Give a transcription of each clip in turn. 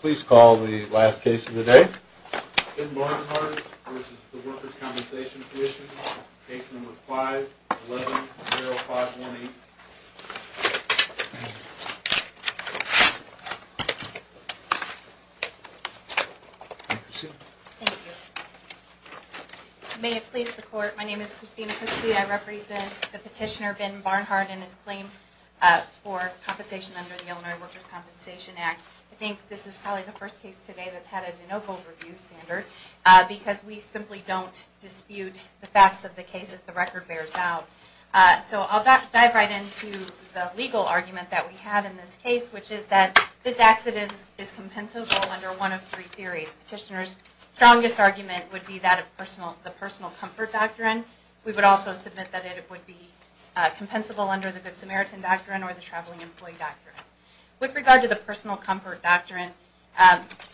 Please call the last case of the day. Ben Barnhart v. Workers' Compensation Comm'n Case No. 5-11-0518 Thank you. May it please the Court, my name is Christina Cusby. I represent the petitioner Ben Barnhart and his claim for compensation under the Illinois Workers' Compensation Act. I think this is probably the first case today that's had a De Novo review standard because we simply don't dispute the facts of the case if the record bears out. So I'll dive right into the legal argument that we have in this case, which is that this exodus is compensable under one of three theories. Petitioner's strongest argument would be that of the personal comfort doctrine. We would also submit that it would be compensable under the Good Samaritan Doctrine or the Traveling Employee Doctrine. With regard to the personal comfort doctrine,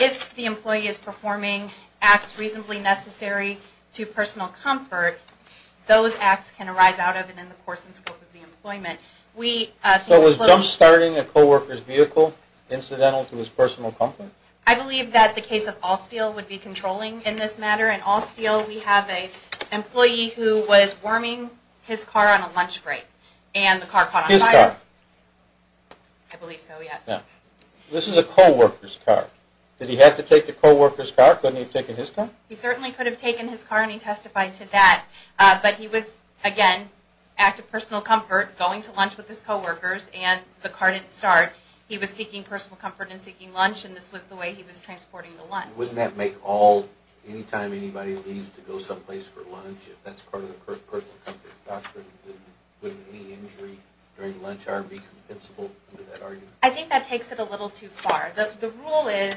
if the employee is performing acts reasonably necessary to personal comfort, those acts can arise out of and in the course and scope of the employment. So it was jump-starting a co-worker's vehicle incidental to his personal comfort? I believe that the case of All Steel would be controlling in this matter. In All Steel we have an employee who was worming his car on a lunch break and the car caught on fire. His car? I believe so, yes. This is a co-worker's car. Did he have to take the co-worker's car? Couldn't he have taken his car? He certainly could have taken his car and he testified to that. But he was, again, active personal comfort, going to lunch with his co-workers and the car didn't start. He was seeking personal comfort and seeking lunch and this was the way he was If anybody leaves to go someplace for lunch, if that's part of the personal comfort doctrine, wouldn't any injury during lunch hour be compensable under that argument? I think that takes it a little too far. The rule is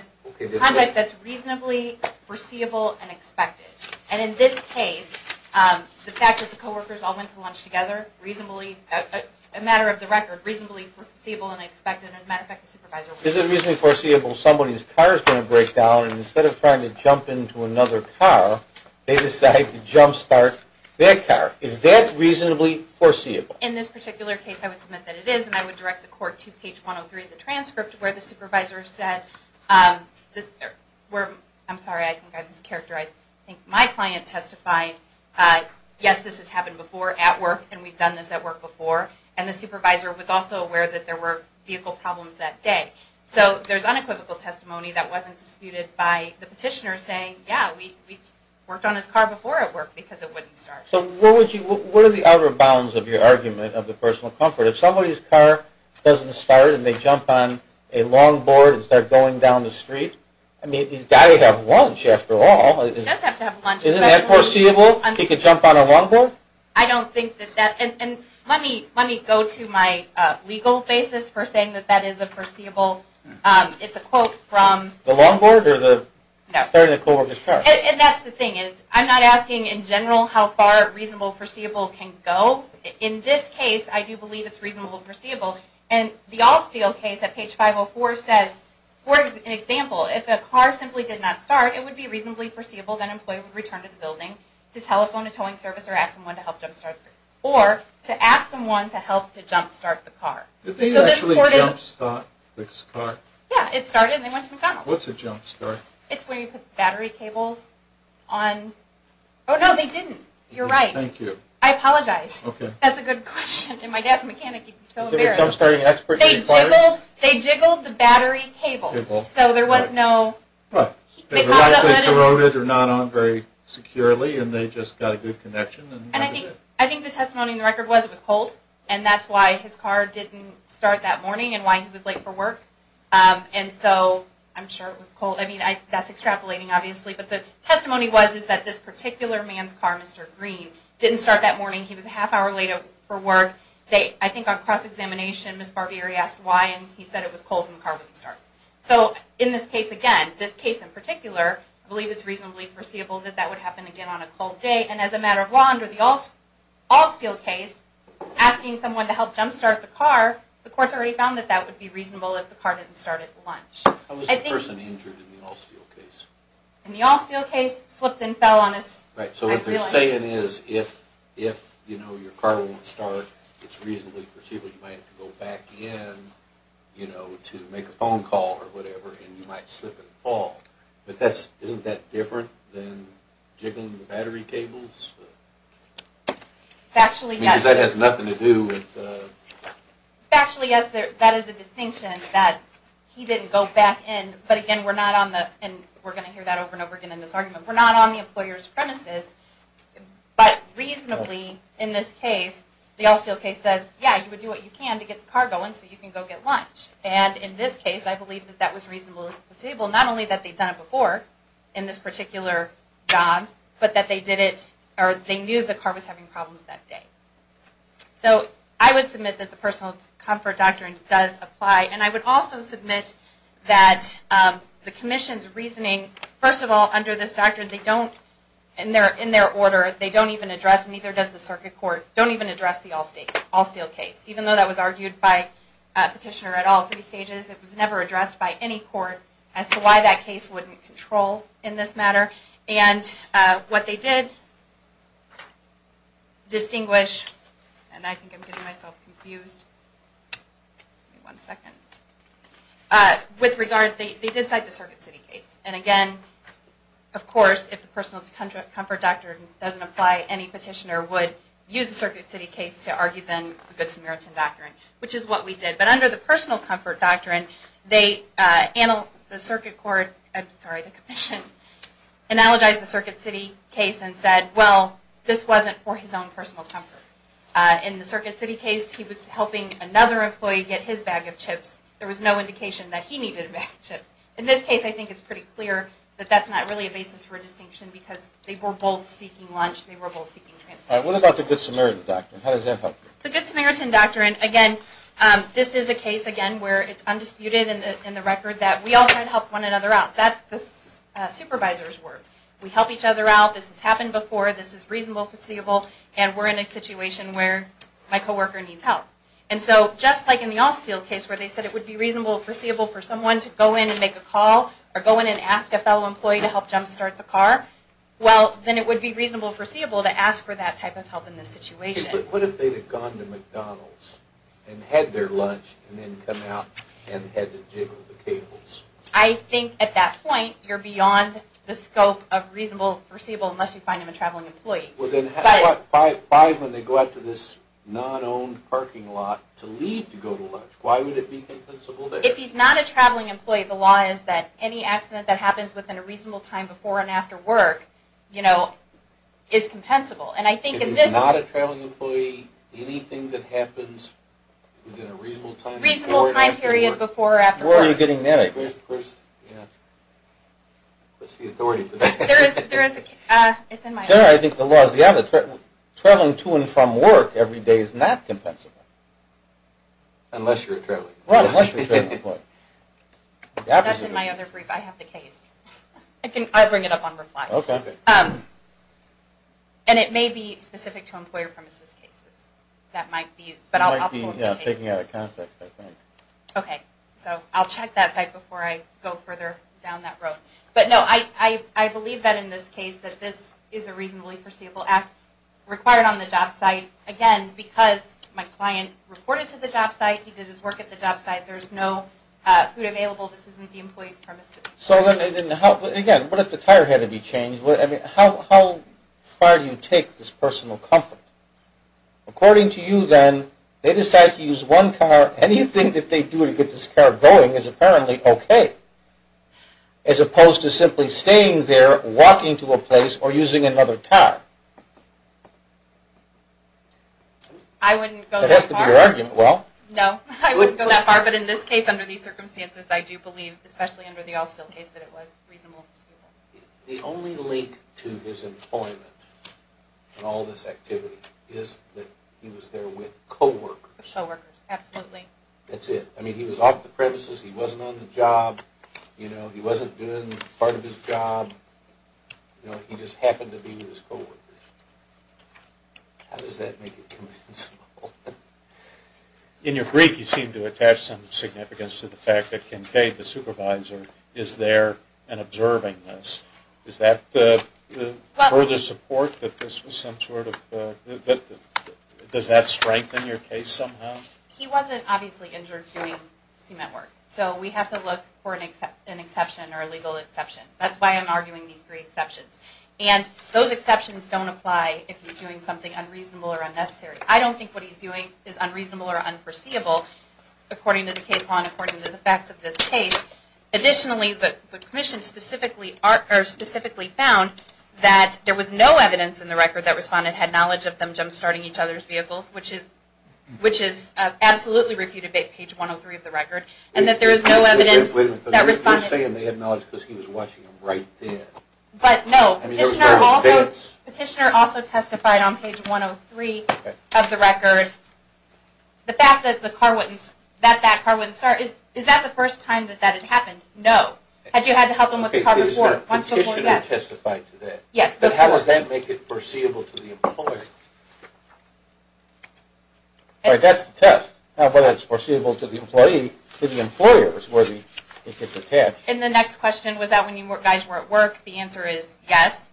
conduct that's reasonably foreseeable and expected. And in this case, the fact that the co-workers all went to lunch together, reasonably, a matter of the record, reasonably foreseeable and expected, as a matter of fact, the supervisor wasn't. Is it reasonably foreseeable somebody's car is going to break down and instead of trying to jump into another car they decide to jump start their car? Is that reasonably foreseeable? In this particular case, I would submit that it is and I would direct the court to page 103 of the transcript where the supervisor said I'm sorry, I think I mischaracterized I think my client testified, yes, this has happened before at work and we've done this at work before and the supervisor was also aware that there were vehicle problems that day. So there's unequivocal testimony that wasn't disputed by the petitioner saying, yeah, we worked on his car before at work because it wouldn't start. What are the other bounds of your argument of the personal comfort? If somebody's car doesn't start and they jump on a longboard and start going down the street, I mean, he's got to have lunch after all. Isn't that foreseeable? He could jump on a longboard? I don't think that that, and let me go to my legal basis for saying that that is a foreseeable, it's a quote from The longboard or the starting of the co-worker's car? And that's the thing is, I'm not asking in general how far reasonable, foreseeable can go. In this case, I do believe it's reasonable, foreseeable and the all-steel case at page 504 says, for example, if a car simply did not start, it would be reasonably foreseeable that an employee would return to the building to telephone a towing service or to ask someone to help jump start the car. Did they actually jump start this car? Yeah, it started and they went to McDonald's. What's a jump start? It's when you put battery cables on... Oh no, they didn't. You're right. Thank you. I apologize. That's a good question. And my dad's a mechanic, he'd be so embarrassed. They jiggled the battery cables, so there was no... They were likely corroded or not on very securely and they just got a good connection and that was it. I think the testimony in the record was it was cold and that's why his car didn't start that morning and why he was late for work. And so, I'm sure it was cold. I mean, that's extrapolating obviously, but the testimony was that this particular man's car, Mr. Green, didn't start that morning. He was a half hour late for work. I think on cross-examination, Ms. Barbieri asked why and he said it was cold and the car wouldn't start. So, in this case again, in this case in particular, I believe it's reasonably foreseeable that that would happen again on a cold day and as a matter of law, under the all-steel case, asking someone to help jump-start the car, the court's already found that that would be reasonable if the car didn't start at lunch. How was the person injured in the all-steel case? In the all-steel case, slipped and fell on his... Right, so what they're saying is if your car won't start, it's reasonably foreseeable you might have to go back in to make a phone call or whatever and you might slip and fall. But isn't that different than jiggling the battery cables? Factually, yes. Because that has nothing to do with... Factually, yes, that is the distinction that he didn't go back in, but again, we're not on the... and we're going to hear that over and over again in this argument... we're not on the employer's premises, but reasonably in this case, the all-steel case says, yeah, you would do what you can to get the car going so you can go get lunch. And in this case, I believe that that was reasonably foreseeable, not only that they'd done it before in this particular job, but that they knew the car was having problems that day. So I would submit that the Personal Comfort Doctrine does apply, and I would also submit that the Commission's reasoning, first of all, under this doctrine, they don't... in their order, they don't even address, neither does the circuit court, don't even address the all-steel case. Even though that was argued by a petitioner at all three stages, it was never addressed by any court as to why that case wouldn't control in this matter. And what they did distinguish... and I think I'm getting myself confused... give me one second... with regard, they did cite the Circuit City case. And again, of course, if the Personal Comfort Doctrine doesn't apply, any petitioner would use the Circuit City case to argue then the Good Samaritan Doctrine, which is what we did. But under the Personal Comfort Doctrine, the Circuit Court... I'm sorry, the Commission analogized the Circuit City case and said, well, this wasn't for his own personal comfort. In the Circuit City case, he was helping another employee get his bag of chips. There was no indication that he needed a bag of chips. In this case, I think it's pretty clear that that's not really a basis for a distinction because they were both seeking lunch, they were both seeking transportation. What about the Good Samaritan Doctrine? How does that help? The Good Samaritan Doctrine, again, this is a case, again, where it's undisputed in the record that we all try to help one another out. That's the supervisor's work. We help each other out, this has happened before, this is reasonable, foreseeable, and we're in a situation where my co-worker needs help. And so, just like in the All Steel case where they said it would be reasonable, foreseeable for someone to go in and make a call, or go in and ask a fellow employee to help jump-start the car, well, then it would be reasonable, foreseeable to ask for that type of help in this situation. But what if they had gone to McDonald's and had their lunch and then come out and had to jiggle the cables? I think at that point, you're beyond the scope of reasonable, foreseeable unless you find them a traveling employee. But what if they go out to this non-owned parking lot to leave to go to lunch? Why would it be compensable there? If he's not a traveling employee, the law is that any accident that happens within a reasonable time before and after work is compensable. And I think in this... If he's not a traveling employee, anything that happens within a reasonable time before or after work... Reasonable time period before or after work... Where are you getting that? It's in my head. Generally, I think the law is the other. Traveling to and from work every day is not compensable. Unless you're a traveling employee. That's in my other brief. I have the case. I bring it up on reply. And it may be specific to employer premises cases. That might be... You might be taking it out of context, I think. I'll check that site before I go further down that road. But no, I believe that in this case that this is a reasonably foreseeable act required on the job site. Again, because my client reported to the job site. He did his work at the job site. There's no food available. This isn't the employee's premises. Again, what if the tire had to be changed? How far do you take this personal comfort? According to you, then, they decide to use one car. Anything that they do to get this car going is apparently okay. As opposed to simply staying there, walking to a place, or using another car. I wouldn't go that far. That has to be your argument. No, I wouldn't go that far. But in this case, under these circumstances, I do believe, especially under the All Still case, that it was reasonably foreseeable. The only link to his employment and all this activity is that he was there with co-workers. That's it. He was off the premises. He wasn't on the job. He wasn't doing part of his job. He just happened to be with his co-workers. How does that make it commensal? In your brief, you seem to attach some significance to the fact that Kincaid, the supervisor, is there and observing this. Does that further support that this was some sort of... Does that strengthen your case somehow? He wasn't obviously injured during C-MET work. So we have to look for an exception or a legal exception. That's why I'm arguing these three exceptions. Those exceptions don't apply if he's doing something unreasonable or unnecessary. I don't think what he's doing is unreasonable or unforeseeable according to the case law and according to the facts of this case. Additionally, the Commission specifically found that there was no evidence in the record that respondent had knowledge of them jump-starting each other's vehicles, which is absolutely refuted by page 103 of the record, and that there is no evidence that respondent... You're saying they had knowledge because he was watching them right then. But no. Petitioner also testified on page 103 of the record that that car wouldn't start. Is that the first time that that had happened? No. Had you had to help him with the car before? No. Petitioner testified to that. But how does that make it foreseeable to the employee? That's the test. Whether it's foreseeable to the employee, to the employers where it gets attached. And the next question, was that when you guys were at work, the answer is yes.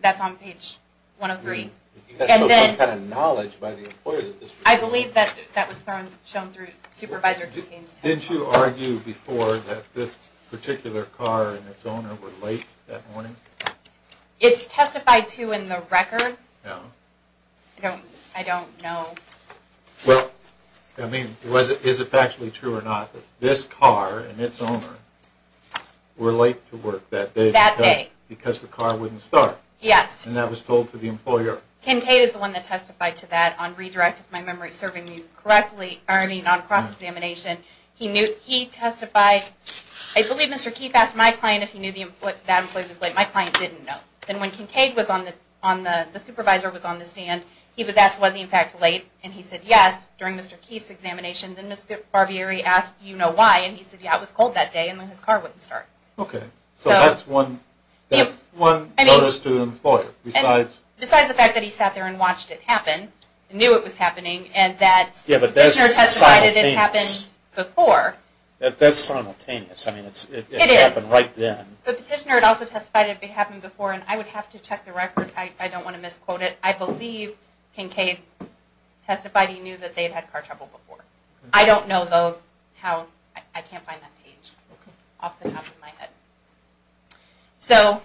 That's on page 103. That shows some kind of knowledge by the employer that this... I believe that was shown through supervisor keychains. Didn't you argue before that this particular car and its owner were late that morning? It's testified to in the record. I don't know. Well, I mean, is it factually true or not that this car and its owner were late to work that day because the car wouldn't start? Yes. And that was told to the employer? Ken Cade is the one that testified to that on redirect, if my memory is serving me correctly, on the cross-examination. He testified... I believe Mr. Keefe asked my client if he knew that an employee was late. My client didn't know. And when Ken Cade was on the... the supervisor was on the stand, he was asked, was he in fact late? And he said yes during Mr. Keefe's examination. Then Ms. Barbieri asked, you know why? And he said, yeah, it was cold that day and his car wouldn't start. Okay. So that's one notice to the employer. Besides the fact that he sat there and watched it happen, knew it was happening, and that petitioner testified that it happened before. That's simultaneous. I mean, it happened right then. The petitioner had also testified that it had happened before. And I would have to check the record. I don't want to misquote it. I believe Ken Cade testified he knew that they had had car trouble before. I don't know, though, how... I can't find that page off the top of my head. So,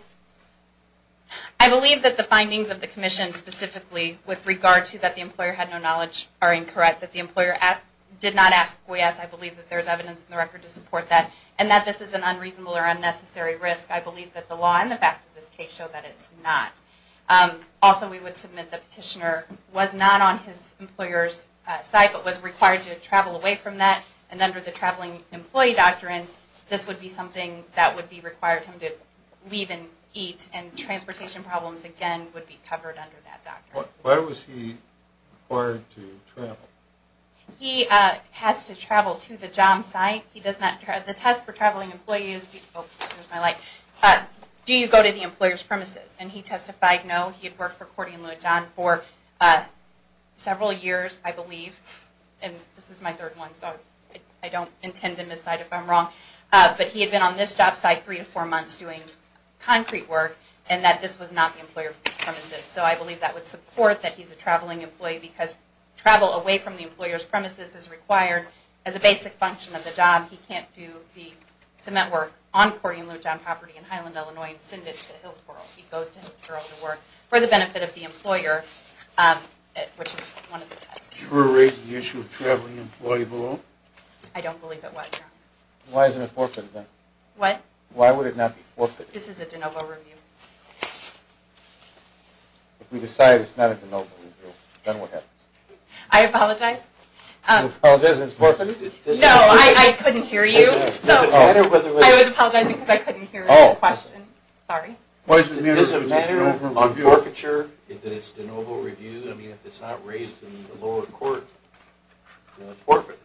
I believe that the findings of the commission specifically with regard to that the employer had no knowledge are incorrect. That the employer did not ask for yes. I believe that there is evidence in the record to support that. And that this is an unreasonable or unnecessary risk. I believe that the law and the facts of this case show that it's not. Also, we would submit the petitioner was not on his employer's side, but was required to travel away from that. And under the traveling employee doctrine, this would be something that would be required him to leave and eat. And transportation problems, again, would be covered under that doctrine. Why was he required to travel? He has to travel to the job site. The test for traveling employees... Do you go to the employer's premises? And he testified no. He had worked for Cordy and Louie John for several years, I believe. And this is my third one, so I don't intend to miscite if I'm wrong. But he had been on this job site three to four months doing concrete work, and that this was not the employer's premises. So I believe that would support that he's a traveling employee because travel away from the employer's premises is required as a basic function of the job. He can't do the cement work on Cordy and Louie John property in Highland, Illinois and send it to Hillsboro. He goes to Hillsboro to work for the benefit of the employer, which is one of the tests. Should we raise the issue of traveling employee below? I don't believe it was. Why would it not be forfeited? This is a DeNovo review. If we decide it's not a DeNovo review, then what happens? I apologize. No, I couldn't hear you. I was apologizing because I couldn't hear the question. Sorry. This is a matter of forfeiture if it's a DeNovo review. If it's not raised in the lower court, then it's forfeited.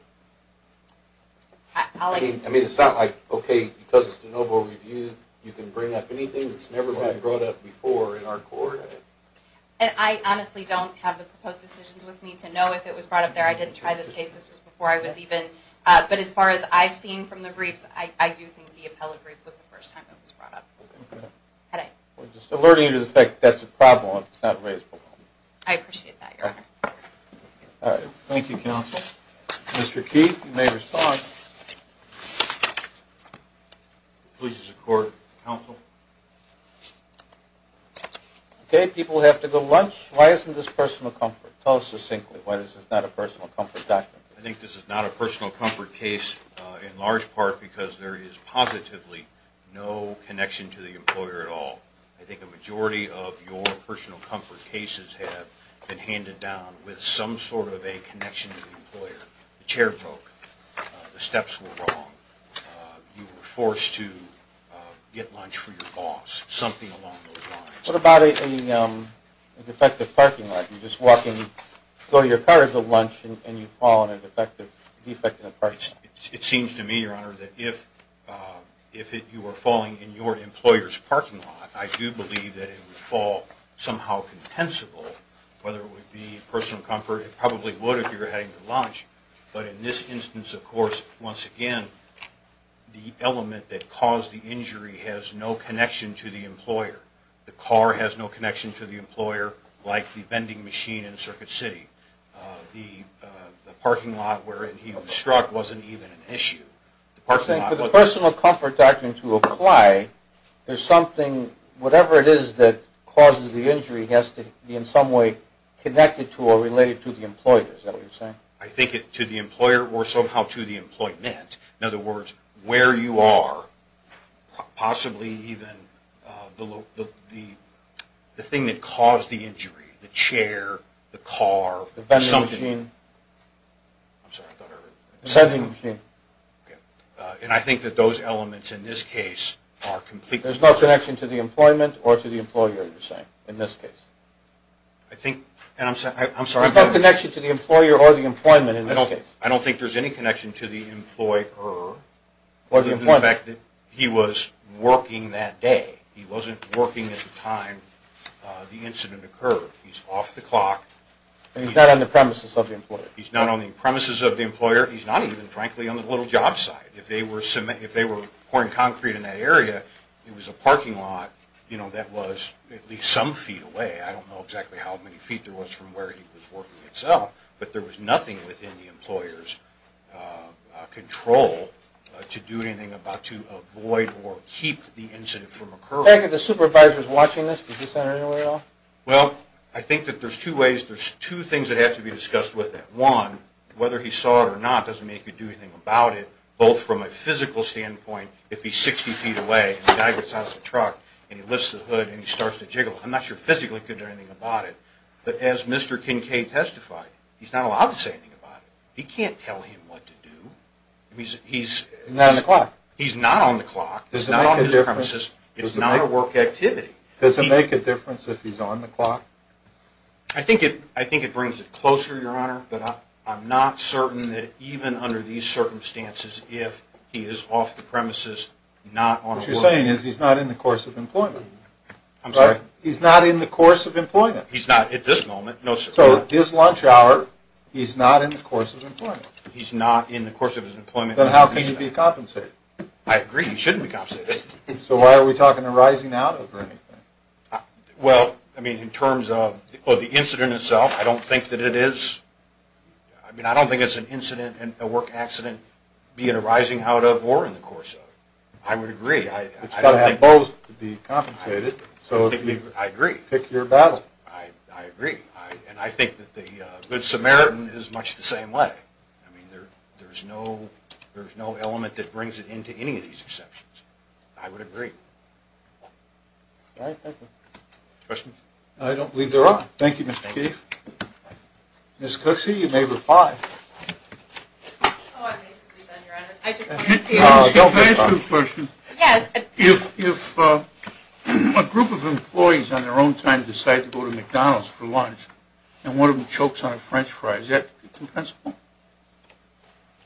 I mean, it's not like, because it's a DeNovo review, you can bring up anything that's never been brought up before in our court. I honestly don't have the proposed decisions with me to know if it was brought up there. I didn't try this case. But as far as I've seen from the briefs, I do think the I'm just alerting you to the fact that that's a problem if it's not raised below. I appreciate that, Your Honor. Thank you, counsel. Mr. Keith, you may respond. Please support counsel. Okay, people have to go lunch. Why isn't this personal comfort? Tell us succinctly why this is not a personal comfort document. I think this is not a personal comfort case in large part because there is positively no connection to the employer at all. I think a majority of your personal comfort cases have been handed down with some sort of a connection to the employer. The chair broke. The steps were wrong. You were forced to get lunch for your boss. Something along those lines. What about a defective parking lot? You just go to your car for lunch and you fall on a defective parking lot. It seems to me, Your Honor, that if you were falling in your employer's parking lot, I do believe that it would fall somehow contensible, whether it would be personal comfort. It probably would if you were heading to lunch. But in this instance, of course, once again, the element that caused the injury has no connection to the employer. The car has no connection to the employer like the vending machine in Circuit City. The parking lot where he was struck wasn't even an issue. For the personal comfort doctrine to apply, whatever it is that causes the injury has to be in some way connected to or related to the employer, is that what you're saying? I think to the employer or somehow to the employment. In other words, where you are, possibly even the thing that caused the injury, the chair, the car, the vending machine. I'm sorry, I thought I heard you. The vending machine. And I think that those elements in this case are completely... There's no connection to the employment or to the employer, you're saying, in this case. There's no connection to the employer or the employment in this case. I don't think there's any connection to the employer other than the fact that he was working that day. He wasn't working at the time the incident occurred. He's off the clock. He's not on the premises of the employer. He's not even, frankly, on the little job site. If they were pouring concrete in that area, it was a parking lot that was at least some feet away. I don't know exactly how many feet there was from where he was working itself, but there was nothing within the employer's control to do anything about to avoid or keep the incident from occurring. The supervisors watching this, did he say anything at all? Well, I think that there's two things that have to be discussed with that. One, whether he saw it or not doesn't mean he could do anything about it, both from a physical standpoint. If he's 60 feet away and the guy gets out of the truck and he lifts the hood and he starts to jiggle, I'm not sure physically he could do anything about it. But as Mr. Kincaid testified, he's not allowed to say anything about it. He can't tell him what to do. He's not on the clock. He's not on his premises. It's not a work activity. Does it make a difference if he's on the clock? I think it brings it closer, Your Honor, but I'm not certain that even under these circumstances, if he is off the premises, not on a work activity. What you're saying is he's not in the course of employment. I'm sorry? Then how can he be compensated? I agree, he shouldn't be compensated. So why are we talking a rising out of or anything? Well, I mean, in terms of the incident itself, I don't think that it is. I mean, I don't think it's an incident, a work accident, be it a rising out of or in the course of. I would agree. It's got to have both to be compensated. I agree. I agree. And I think that the Good Samaritan is much the same way. I mean, there's no element that brings it into any of these exceptions. I would agree. All right, thank you. Questions? I don't believe there are. Thank you, Mr. Chief. Ms. Cooksey, you may reply. Oh, I'm basically done, Your Honor. Can I ask you a question? If a group of employees on their own time decide to go to McDonald's for lunch and one of them chokes on a French fry, is that compensable?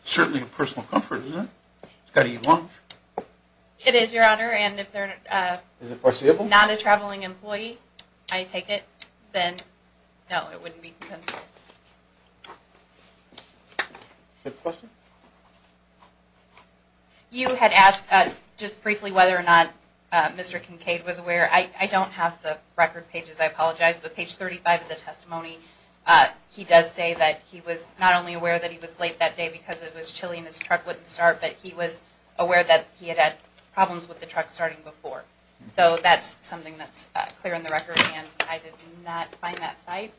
Certainly a personal comfort, isn't it? He's got to eat lunch. It is, Your Honor, and if they're not a traveling employee, I take it, then, no, it wouldn't be compensable. Next question. You had asked just briefly whether or not Mr. Kincaid was aware. I don't have the record pages, I apologize, but page 35 of the testimony, he does say that he was not only aware that he was late that day because it was chilly and his truck wouldn't start, but he was aware that he had had problems with the truck starting before. So that's something that's clear in the record, and I did not find that site.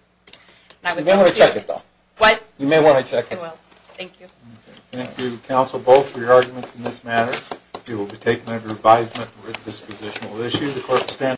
You may want to check it, though. What? You may want to check it. I will. Thank you. Thank you, counsel, both, for your arguments in this matter. It will be taken under advisement with dispositional issues.